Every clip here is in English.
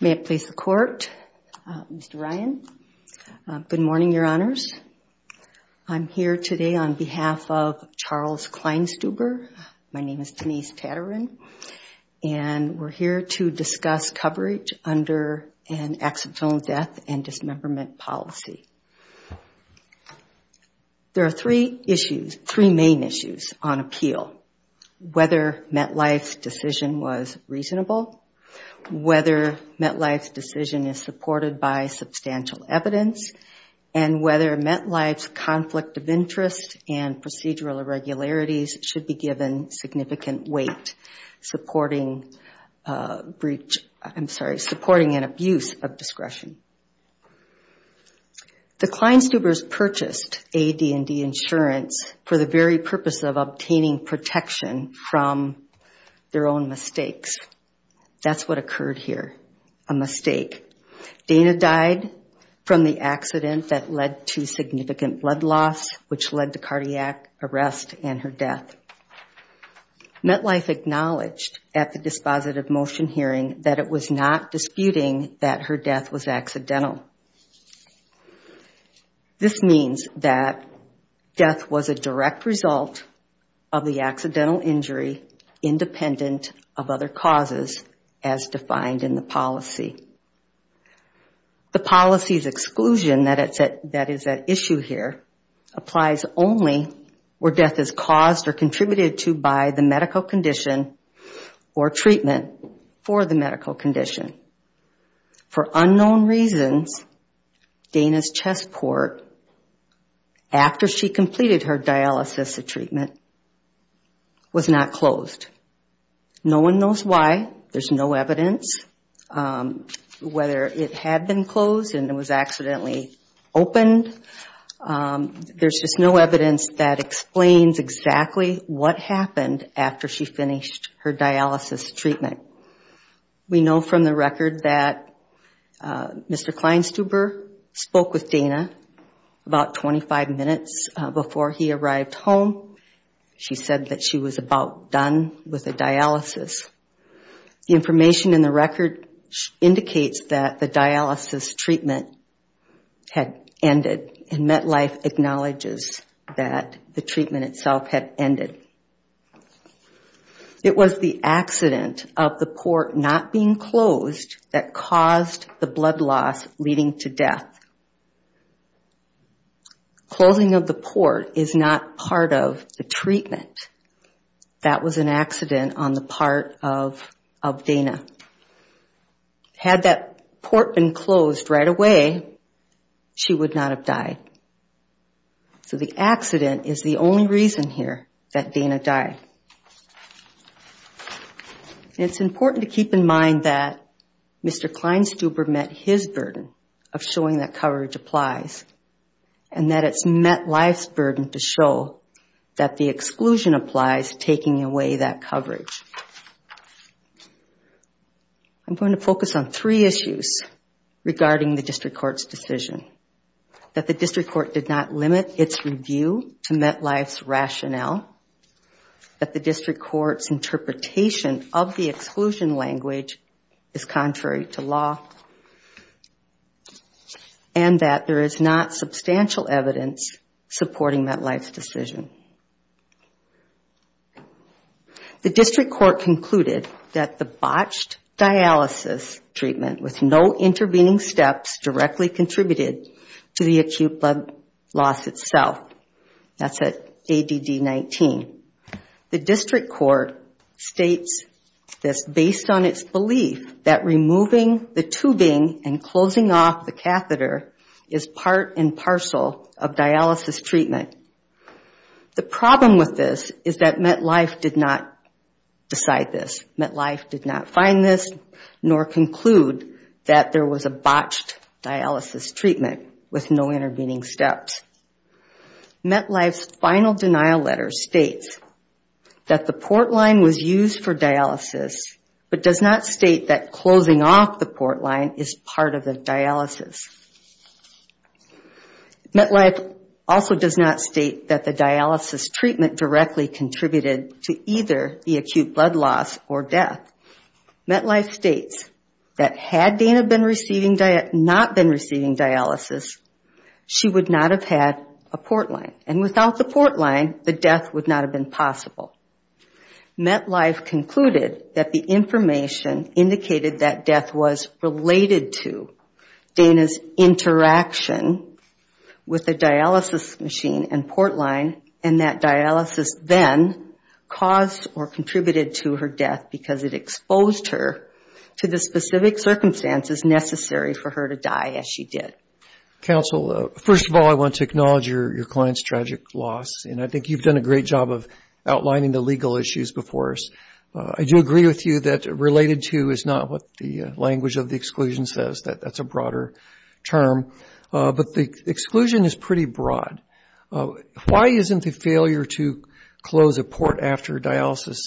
May it please the Court, Mr. Ryan. Good morning, Your Honors. I'm here today on behalf of Charles Kleinsteuber. My name is Denise Tatarin, and we're here to discuss coverage under an accidental death and dismemberment policy. There are three main issues on appeal. Whether MetLife's decision was reasonable, whether MetLife's decision is supported by substantial evidence, and whether MetLife's conflict of interest and procedural irregularities should be given significant weight, supporting breach, I'm sorry, supporting an abuse of discretion. The Kleinsteubers purchased AD&D insurance for the very purpose of obtaining protection from their own mistakes. That's what occurred here, a mistake. Dana died from the accident that led to significant blood loss, which led to cardiac arrest and her death. MetLife acknowledged at the dispositive motion hearing that it was not disputing that her death was accidental. This means that death was a direct result of the accidental injury independent of other as defined in the policy. The policy's exclusion that is at issue here applies only where death is caused or contributed to by the medical condition or treatment for the medical condition. For unknown reasons, Dana's passport, after she completed her dialysis treatment, was not closed. No one knows why. There's no evidence whether it had been closed and it was accidentally opened. There's just no evidence that explains exactly what happened after she finished her dialysis treatment. We know from the record that Mr. Kleinsteuber spoke with Dana about 25 minutes before he arrived home. She said that she was about done with the dialysis. The information in the record indicates that the dialysis treatment had ended and MetLife acknowledges that the treatment itself had ended. It was the accident of the port not being closed that caused the blood loss leading to death. Closing of the port is not part of the treatment. That was an accident on the part of Dana. Had that port been closed right away, she would not have died. So the accident is the only reason here that Dana died. It's important to keep in mind that Mr. Kleinsteuber met his burden of showing that coverage applies and that it's MetLife's burden to show that the exclusion applies taking away that coverage. I'm going to focus on three issues regarding the District Court's decision. That the District Court did not limit its review to MetLife's rationale. That the District Court's interpretation of the exclusion language is contrary to law. And that there is not substantial evidence supporting MetLife's decision. The District Court concluded that the botched dialysis treatment with no intervening steps directly contributed to the acute blood loss itself. That's at ADD 19. The District Court states this based on its belief that removing the tubing and closing off the catheter is part and parcel of dialysis treatment. The problem with this is that MetLife did not decide this. MetLife did not find this nor conclude that there was a botched dialysis treatment with no intervening steps. MetLife's final denial letter states that the port line was used for dialysis but does not state that closing off the port line is part of the dialysis. MetLife also does not state that the dialysis treatment directly contributed to either the acute blood loss or death. MetLife states that had Dana not been receiving dialysis, she would not have had a port line, the death would not have been possible. MetLife concluded that the information indicated that death was related to Dana's interaction with the dialysis machine and port line and that dialysis then caused or contributed to her death because it exposed her to the specific circumstances necessary for her to die as she did. Counsel, first of all I want to acknowledge your client's tragic loss and I think you've done a great job of outlining the legal issues before us. I do agree with you that related to is not what the language of the exclusion says, that's a broader term, but the exclusion is pretty broad. Why isn't the failure to close a port after dialysis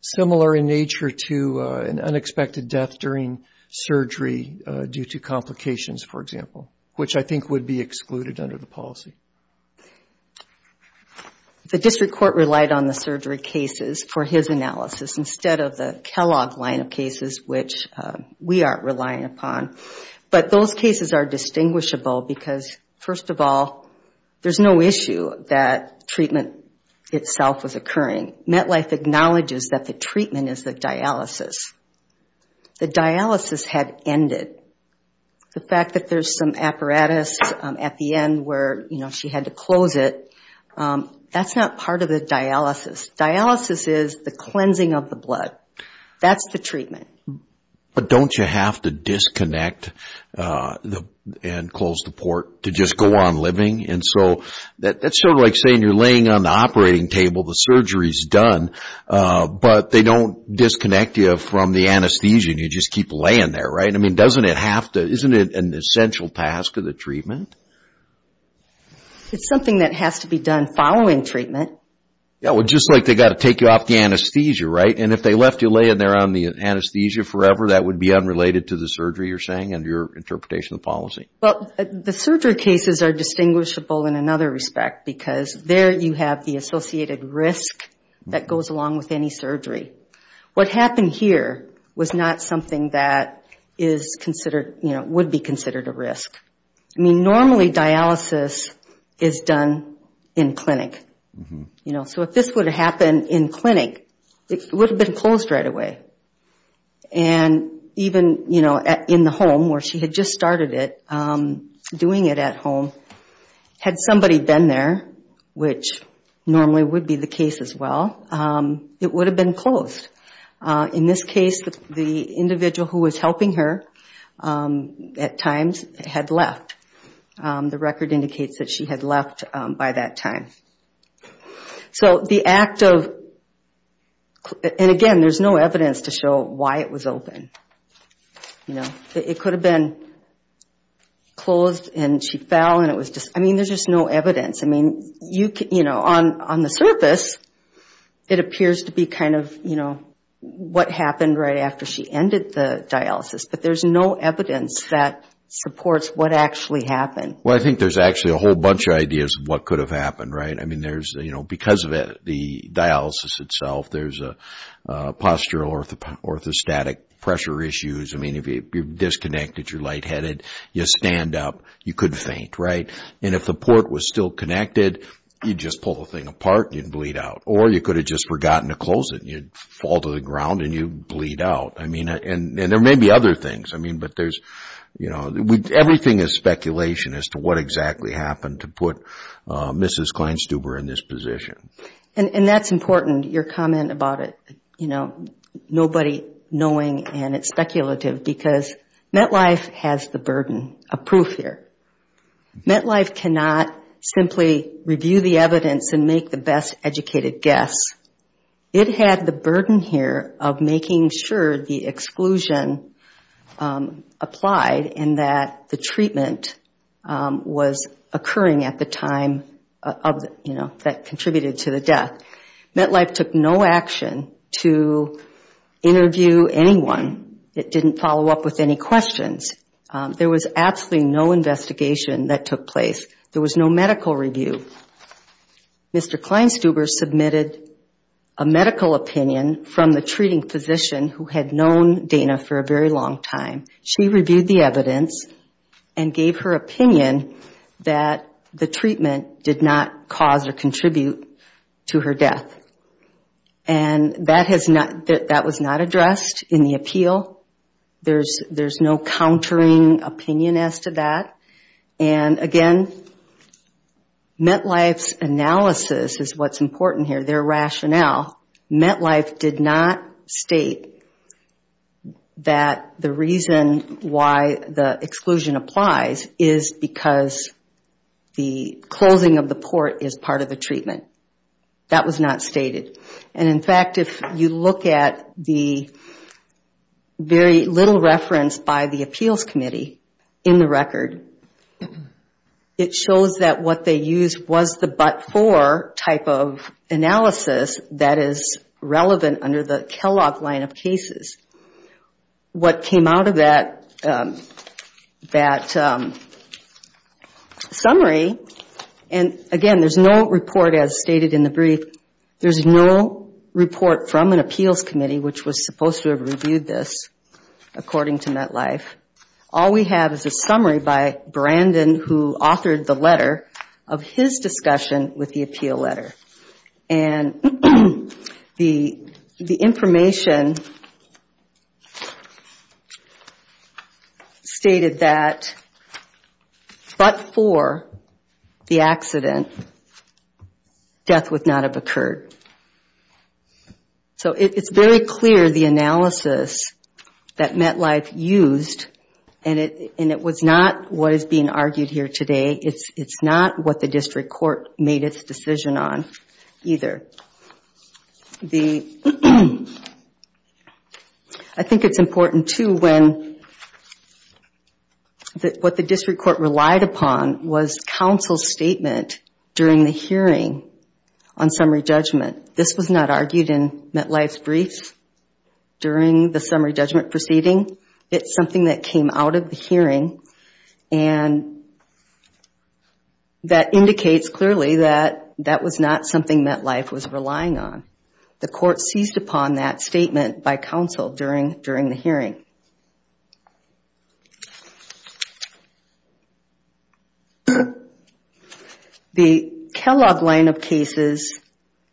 similar in nature to an unexpected death during surgery due to complications for example, which I think would be excluded under the policy? The district court relied on the surgery cases for his analysis instead of the Kellogg line of cases which we aren't relying upon. But those cases are there's no issue that treatment itself was occurring. MetLife acknowledges that the treatment is the dialysis. The dialysis had ended. The fact that there's some apparatus at the end where she had to close it, that's not part of the dialysis. Dialysis is the cleansing of the blood. That's the treatment. But don't you have to disconnect and close the port to just go on living? That's sort of like saying you're laying on the operating table, the surgery's done, but they don't disconnect you from the anesthesia and you just keep laying there, right? Isn't it an essential task of the treatment? It's something that has to be done following treatment. Well, just like they've got to take you off the anesthesia, right? And if they left you laying there on the anesthesia forever, that would be unrelated to the surgery you're saying and your interpretation of the policy? Well, the surgery cases are distinguishable in another respect because there you have the associated risk that goes along with any surgery. What happened here was not something that is considered, would be considered a risk. I mean, normally dialysis is done in clinic. So if this would have happened in clinic, it would have been closed right away. And even in the home where she had just started it, doing it at home, had somebody been there, which normally would be the case as well, it would have been closed. In this case, the individual who was helping her at times had left. The record indicates that she had left by that time. So the act of, and again, there's no evidence to show why it was open. It could have been closed and she fell. I mean, there's just no evidence. I mean, on the surface, it appears to be kind of what happened right after she ended the dialysis, but there's no evidence that supports what actually happened. Well, I think there's actually a whole bunch of ideas of what could have happened, right? I mean, because of the dialysis itself, there's a postural orthostatic pressure issues. I mean, if you're disconnected, you're lightheaded, you stand up, you could faint, right? And if the port was still connected, you'd just pull the thing apart and you'd bleed out. Or you could have just forgotten to close it. You'd fall to the ground and you'd bleed out. I mean, and there may be other things. I mean, but there's, you know, everything is speculation as to what exactly happened to put Mrs. Kleinstuber in this position. And that's important, your comment about it, you know, nobody knowing and it's speculative, because MetLife has the burden of proof here. MetLife cannot simply review the evidence and make the best educated guess. It had the burden here of making sure the exclusion applied and that the treatment was occurring at the time of, you know, that contributed to the death. MetLife took no action to interview anyone. It didn't follow up with any questions. There was absolutely no investigation that took place. There was no medical review. Mr. Kleinstuber submitted a medical opinion from the treating physician who had known Dana for a very long time. She reviewed the evidence and gave her opinion that the treatment did not cause or contribute to her death. And that was not addressed in the appeal. There's no countering opinion as to that. And again, MetLife's analysis is what's important here, their rationale. MetLife did not state that the reason why the exclusion applies is because the closing of the port is part of the treatment. That was not stated. And in fact, if you look at the very little reference by the appeals committee in the record, it shows that what they used was the but-for type of analysis that is relevant under the Kellogg line of What came out of that summary, and again, there's no report as stated in the brief, there's no report from an appeals committee which was supposed to have reviewed this, according to MetLife. All we have is a summary by Brandon who authored the letter of his discussion with the appeal letter. And the information stated that but for the accident, death would not have occurred. So it's very clear the analysis that MetLife used, and it was not what is being argued here today. It's not what the district relied upon was counsel's statement during the hearing on summary judgment. This was not argued in MetLife's brief during the summary judgment proceeding. It's something that came The Kellogg line of cases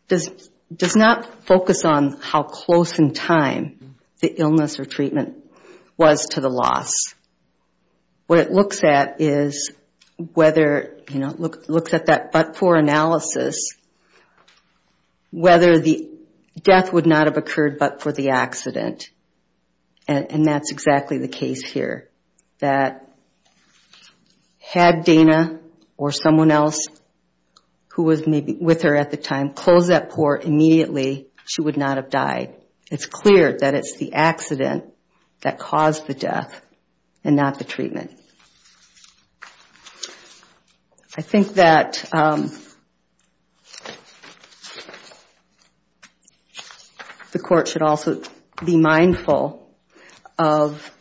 does not focus on how close in time the illness or treatment was to the loss. What it looks at is whether, you know, it looks at that but-for analysis, whether the death would not have occurred but for the accident. And that's exactly the case here, that had Dana or someone else who was with her at the time closed that port immediately, she would not have died. It's clear that it's the accident that caused the death and not the treatment. I think that the court should also be mindful of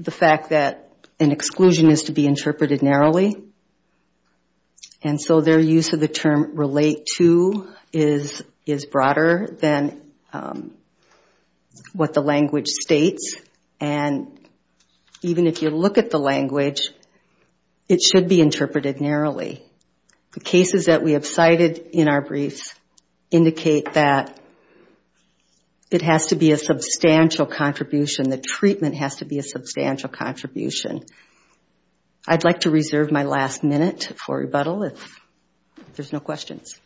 the fact that an exclusion is to be interpreted narrowly. And so their use of the term relate to is broader than what the language states. And even if you look at the language, it should be interpreted narrowly. The cases that we have cited in our briefs indicate that it has to be a substantial contribution, the treatment has to be a substantial contribution. I'd like to reserve my last minute for rebuttal if there's no questions.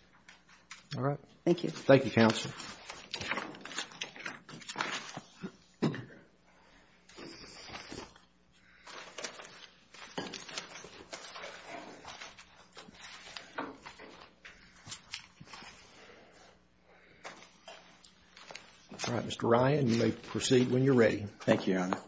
All right. Thank you. Thank you, counsel. All right, Mr. Ryan, you may proceed when you're ready. Thank you, Your Honor.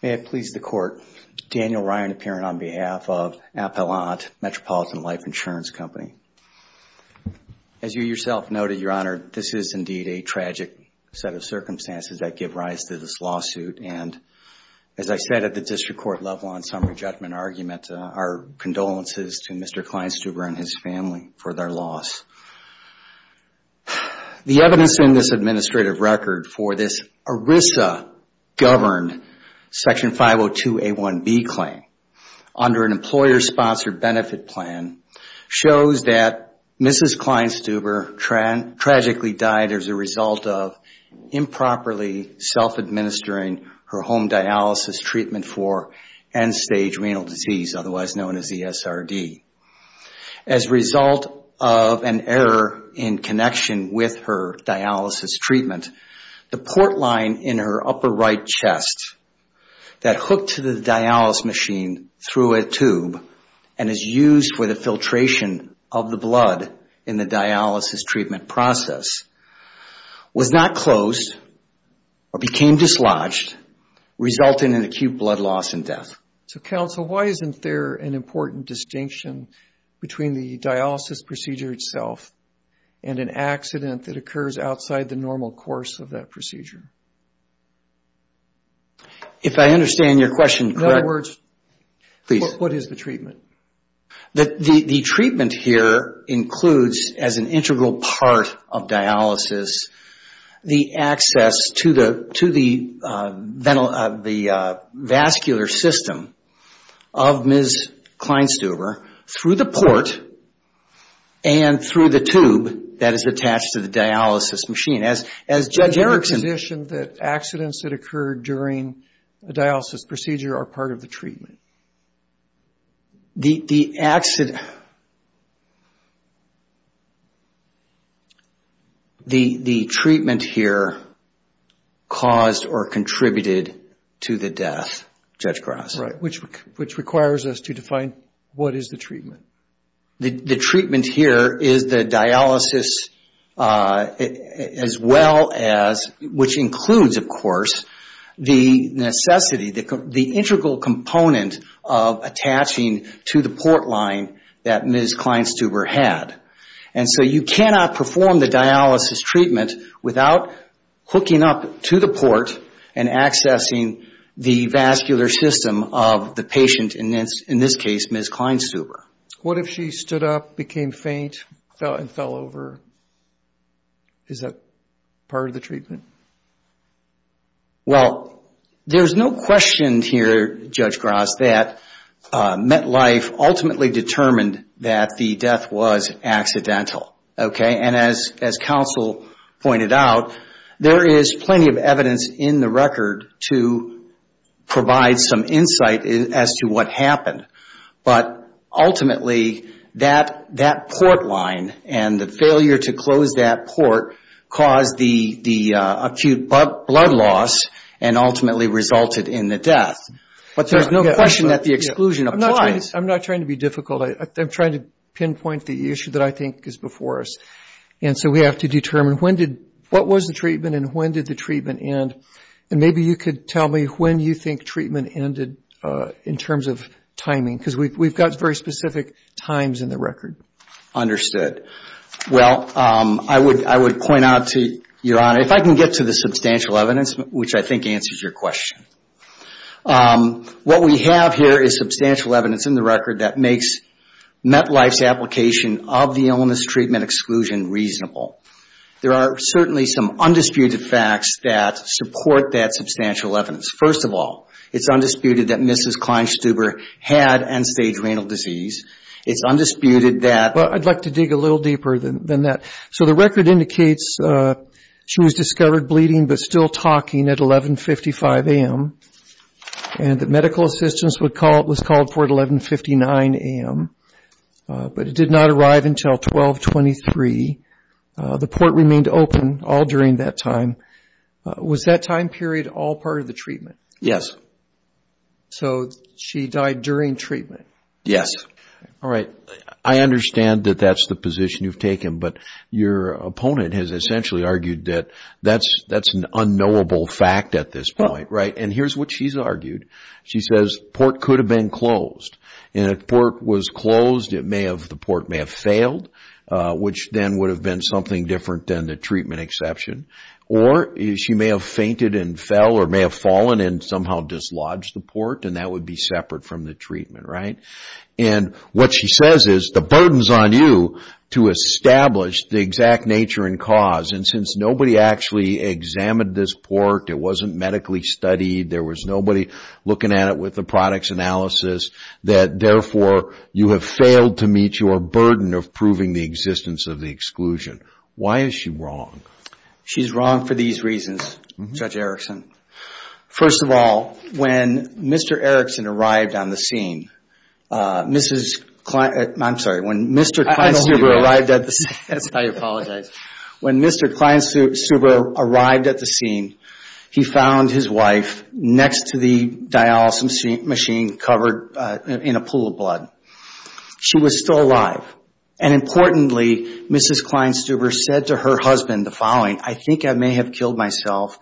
May it please the court, Daniel Ryan, a parent on behalf of Appellant Metropolitan Life Insurance Company. As you yourself noted, Your Honor, this is indeed a tragic set of circumstances that give rise to this lawsuit. And as I said at the district court level on summary judgment argument, our condolences to Mr. Kleinstuber and his family for their loss. The evidence in this administrative record for this ERISA governed Section 502A1B claim under an employer-sponsored benefit plan shows that Mrs. Kleinstuber tragically died as a result of improperly self-administering her home dialysis treatment for end-stage renal disease, otherwise known as ESRD. As a result of an error in connection with her dialysis treatment, the port line in her upper right chest that hooked to the dialysis machine through a tube and is used for the filtration of the blood in the dialysis treatment process was not closed or became dislodged. Resulting in acute blood loss and death. So, counsel, why isn't there an important distinction between the dialysis procedure itself and an accident that occurs outside the normal course of that procedure? If I understand your question correctly... In other words... Please. What is the treatment? The treatment here includes, as an integral part of dialysis, the access to the vascular system of Ms. Kleinstuber through the port and through the tube that is attached to the dialysis machine. As Judge Erickson... Why is there a distinction that accidents that occur during a dialysis procedure are part of the treatment? The accident... The treatment here caused or contributed to the death, Judge Grasso. Right, which requires us to define what is the treatment. The treatment here is the dialysis as well as, which includes of course, the necessity, the integral component of attaching to the port line that Ms. Kleinstuber had. And so you cannot perform the dialysis treatment without hooking up to the port and accessing the vascular system of the patient, in this case, Ms. Kleinstuber. What if she stood up, became faint, and fell over? Is that part of the treatment? Well, there's no question here, Judge Grasso, that MetLife ultimately determined that the death was accidental. And as counsel pointed out, there is plenty of evidence in the record to provide some insight as to what happened. But ultimately, that port line and the failure to close that port caused the acute blood loss and ultimately resulted in the death. But there's no question that the exclusion of... I'm not trying to be difficult. I'm trying to pinpoint the issue that I think is before us. And so we have to determine what was the treatment and when did the treatment end. And maybe you could tell me when you think treatment ended in terms of timing, because we've got very specific times in the record. Well, I would point out to Your Honor, if I can get to the substantial evidence, which I think answers your question. What we have here is substantial evidence in the record that makes MetLife's application of the illness treatment exclusion reasonable. There are certainly some undisputed facts that support that substantial evidence. First of all, it's undisputed that Mrs. Kleinstuber had end-stage renal disease. It's undisputed that... Well, I'd like to dig a little deeper than that. So the record indicates she was discovered bleeding but still talking at 11.55 a.m. And that medical assistance was called for at 11.59 a.m. But it did not arrive until 12.23. The port remained open all during that time. Was that time period all part of the treatment? Yes. So she died during treatment? Yes. All right. I understand that that's the position you've taken. But your opponent has essentially argued that that's an unknowable fact at this point, right? And here's what she's argued. She says the port could have been closed. And if the port was closed, the port may have failed, which then would have been something different than the treatment exception. Or she may have fainted and fell or may have fallen and somehow dislodged the port. And that would be separate from the treatment, right? And what she says is the burden's on you to establish the exact nature and cause. And since nobody actually examined this port, it wasn't medically studied, there was nobody looking at it with the products analysis, that therefore you have failed to meet your burden of proving the existence of the exclusion. Why is she wrong? She's wrong for these reasons, Judge Erickson. First of all, when Mr. Kleinstuber arrived at the scene, he found his wife next to the dialysis machine covered in a pool of blood. She was still alive. And importantly, Mrs. Kleinstuber said to her husband the following, I think I may have killed myself.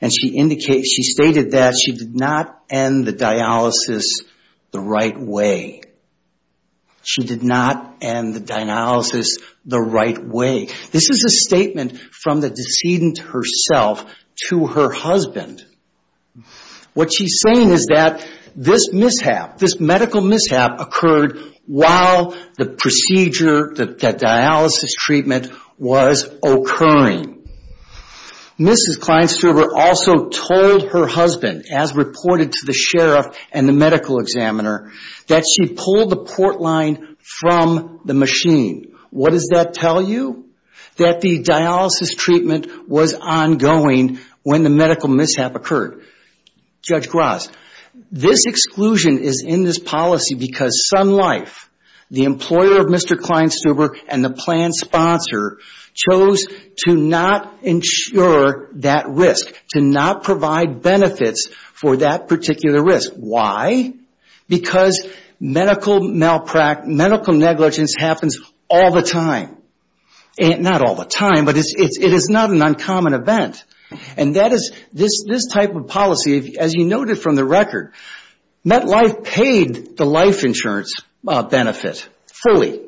And she stated that she did not end the dialysis the right way. She did not end the dialysis the right way. This is a statement from the decedent herself to her husband. What she's saying is that this mishap, this medical mishap occurred while the procedure, that dialysis treatment was occurring. Mrs. Kleinstuber also told her husband, as reported to the sheriff and the medical examiner, that she pulled the port line from the machine. What does that tell you? That the dialysis treatment was ongoing when the medical mishap occurred. Judge Graz, this exclusion is in this policy because Sun Life, the employer of Mr. Kleinstuber, and the plan sponsor chose to not insure that risk, to not provide benefits for that particular risk. Why? Because medical negligence happens all the time. Not all the time, but it is not an uncommon event. And that is, this type of policy, as you noted from the record, MetLife paid the life insurance benefit fully.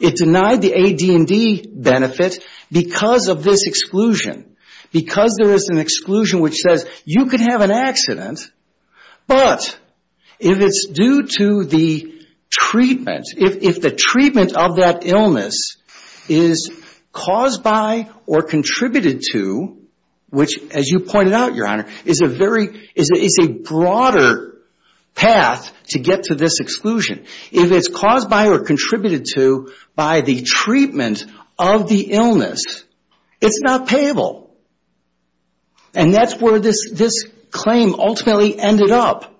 It denied the AD&D benefit because of this exclusion. Because there is an exclusion which says you could have an accident, but if it's due to the treatment, if the treatment of that illness is caused by or contributed to, which, as you pointed out, Your Honor, is a broader path to get to this exclusion. If it's caused by or contributed to by the treatment of the illness, it's not payable. And that's where this claim ultimately ended up.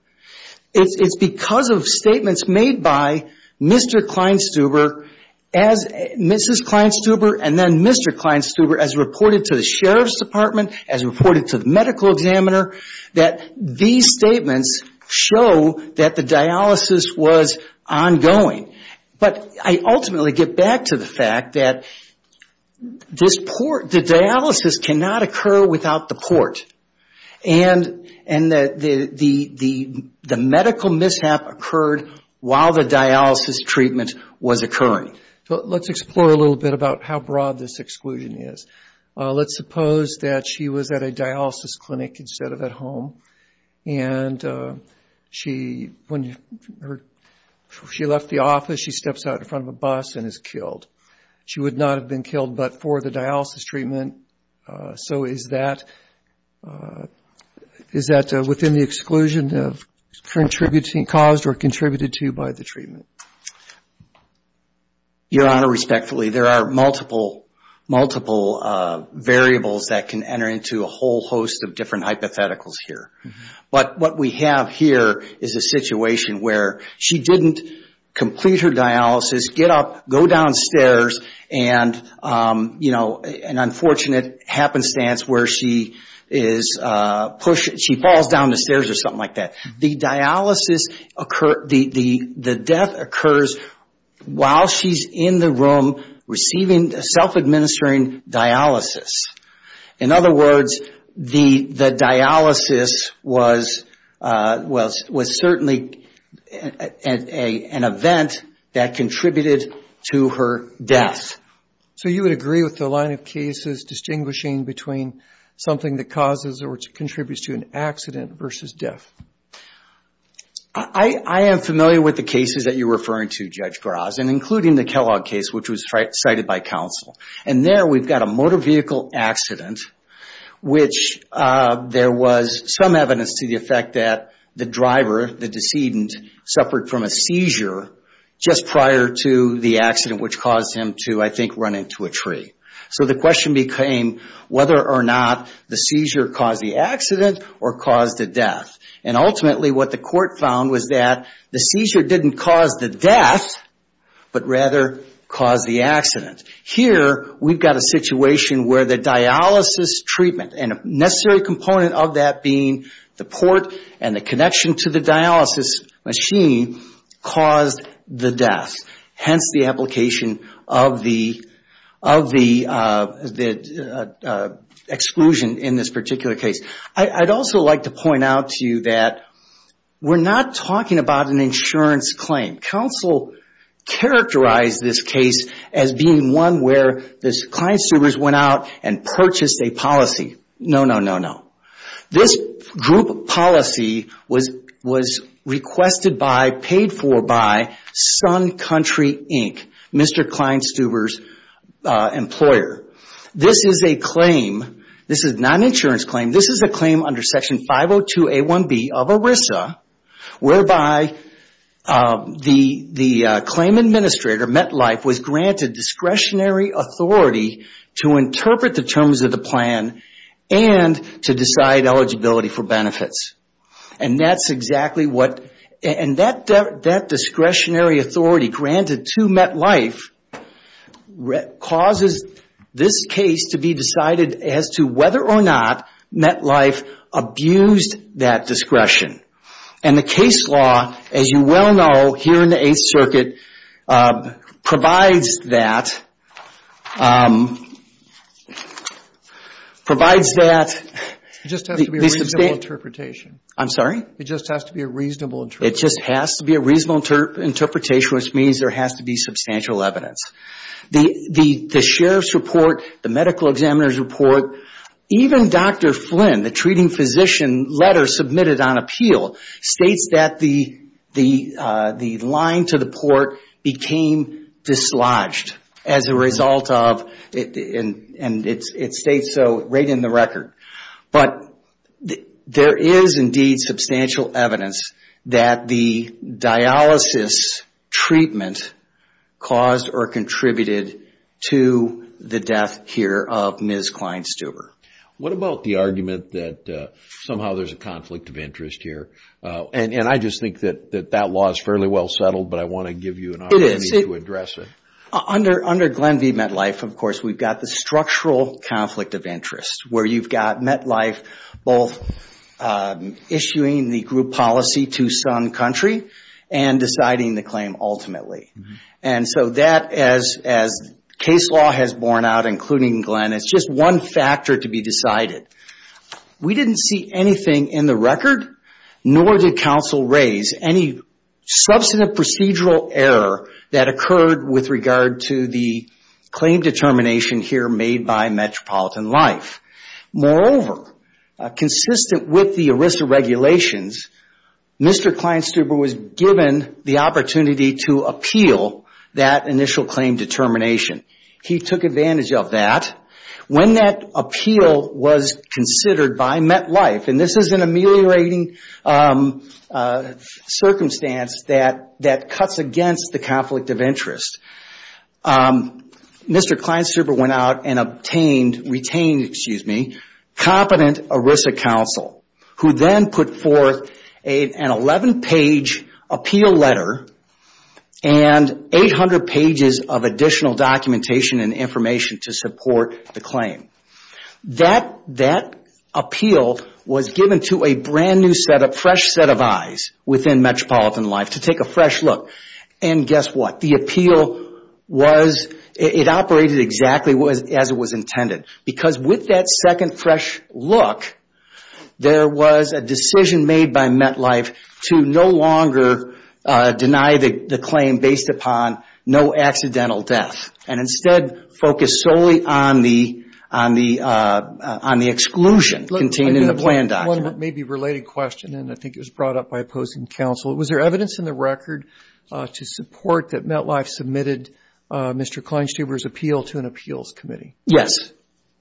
It's because of statements made by Mr. Kleinstuber, Mrs. Kleinstuber, and then Mr. Kleinstuber, as reported to the Sheriff's Department, as reported to the medical examiner, that these statements show that the dialysis was ongoing. But I ultimately get back to the fact that the dialysis cannot occur without the port. And the medical mishap occurred while the dialysis treatment was occurring. Let's explore a little bit about how broad this exclusion is. Let's suppose that she was at a dialysis clinic instead of at home. And when she left the office, she steps out in front of a bus and is killed. She would not have been killed but for the dialysis treatment. So is that within the exclusion of contributing, caused or contributed to by the treatment? Your Honor, respectfully, there are multiple variables that can enter into a whole host of different hypotheticals here. But what we have here is a situation where she didn't complete her dialysis, get up, go downstairs, and, you know, an unfortunate happenstance where she falls down the stairs or something like that. The dialysis occurred, the death occurs while she's in the room receiving self-administering dialysis. In other words, the dialysis was certainly an event that contributed to her death. So you would agree with the line of cases distinguishing between something that causes or contributes to an accident versus death? I am familiar with the cases that you're referring to, Judge Graz, and including the Kellogg case, which was cited by counsel. And there we've got a motor vehicle accident, which there was some evidence to the effect that the driver, the decedent, suffered from a seizure just prior to the accident, which caused him to, I think, run into a tree. So the question became whether or not the seizure caused the accident or caused the death. And ultimately what the court found was that the seizure didn't cause the death, but rather caused the accident. Here we've got a situation where the dialysis treatment, and a necessary component of that being the port and the connection to the dialysis machine, caused the death. Hence, the application of the exclusion in this particular case. I'd also like to point out to you that we're not talking about an insurance claim. Counsel characterized this case as being one where the client's superiors went out and purchased a policy. No, no, no, no. This group policy was requested by, paid for by, Sun Country, Inc., Mr. Kleinstuber's employer. This is a claim, this is not an insurance claim, this is a claim under Section 502A1B of ERISA, whereby the claim administrator, MetLife, was granted discretionary authority to interpret the terms of the plan and to decide eligibility for benefits. And that's exactly what, and that discretionary authority granted to MetLife causes this case to be decided as to whether or not MetLife abused that discretion. And the case law, as you well know, here in the Eighth Circuit, provides that... provides that... It just has to be a reasonable interpretation. I'm sorry? It just has to be a reasonable interpretation. It just has to be a reasonable interpretation, which means there has to be substantial evidence. The sheriff's report, the medical examiner's report, even Dr. Flynn, the treating physician letter submitted on appeal, states that the line to the port became dislodged as a result of, and it states so right in the record. But there is indeed substantial evidence that the dialysis treatment caused or contributed to the death here of Ms. Klein-Stuber. What about the argument that somehow there's a conflict of interest here? And I just think that that law is fairly well settled, but I want to give you an opportunity to address it. Under Glenn v. MetLife, of course, we've got the structural conflict of interest, where you've got MetLife both issuing the group policy to some country and deciding the claim ultimately. And so that, as case law has borne out, including Glenn, it's just one factor to be decided. We didn't see anything in the record, nor did counsel raise any substantive procedural error that occurred with regard to the claim determination here made by Metropolitan Life. Moreover, consistent with the ERISA regulations, Mr. Klein-Stuber was given the opportunity to appeal that initial claim determination. He took advantage of that. When that appeal was considered by MetLife, and this is an ameliorating circumstance that cuts against the conflict of interest, Mr. Klein-Stuber went out and retained competent ERISA counsel, who then put forth an 11-page appeal letter and 800 pages of additional documentation and information to support the claim. That appeal was given to a brand new set of fresh set of eyes within Metropolitan Life to take a fresh look. And guess what? The appeal was, it operated exactly as it was intended. Because with that second fresh look, there was a decision made by MetLife to no longer deny the claim based upon no accidental death and instead focus solely on the exclusion contained in the plan document. One maybe related question, and I think it was brought up by opposing counsel. Was there evidence in the record to support that MetLife submitted Mr. Klein-Stuber's appeal to an appeals committee? Yes.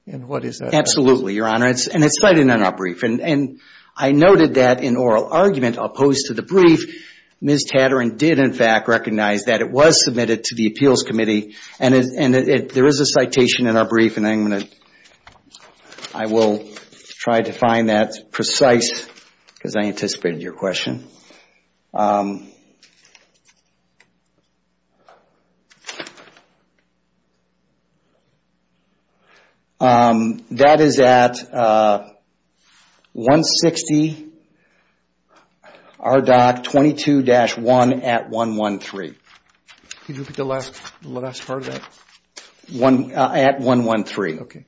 And what is that? Absolutely, Your Honor. And it's cited in our brief. And I noted that in oral argument opposed to the brief, Ms. Tatarin did in fact recognize that it was submitted to the appeals committee. And there is a citation in our brief, and I'm going to, I will try to find that precise because I anticipated your question. That is at 160 RDoC 22-1 at 113. Can you repeat the last part of that? At 113. Okay.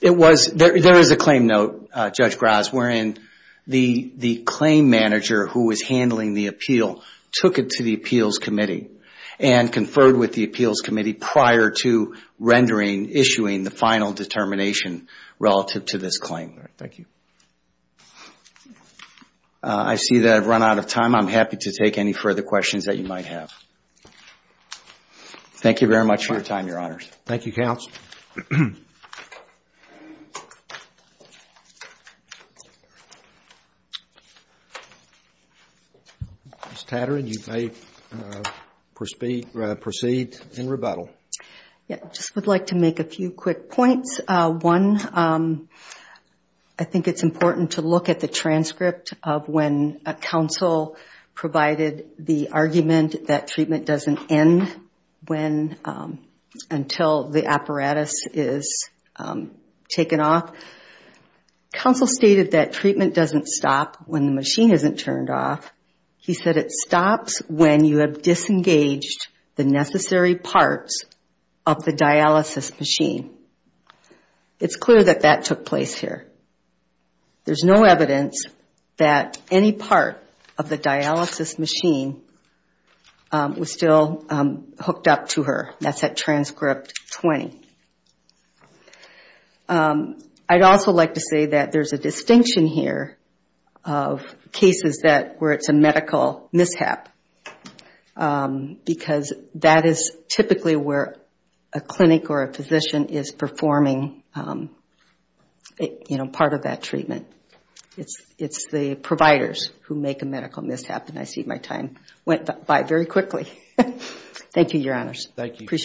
It was, there is a claim note, Judge Graz, wherein the claim manager who was handling the appeal took it to the appeals committee and conferred with the appeals committee prior to rendering, issuing the final determination relative to this claim. Thank you. I see that I've run out of time. I'm happy to take any further questions that you might have. Thank you very much for your time, Your Honors. Thank you, Counsel. Ms. Tatarin, you may proceed in rebuttal. I just would like to make a few quick points. One, I think it's important to look at the transcript of when counsel provided the argument that treatment doesn't end until the apparatus is taken off. Counsel stated that treatment doesn't stop when the machine isn't turned off. He said it stops when you have disengaged the necessary parts of the dialysis machine. It's clear that that took place here. There's no evidence that any part of the dialysis machine was still hooked up to her. That's at transcript 20. I'd also like to say that there's a distinction here of cases where it's a medical mishap because that is typically where a clinic or a physician is performing part of that treatment. It's the providers who make a medical mishap. I see my time went by very quickly. Thank you, Your Honors. Thank you.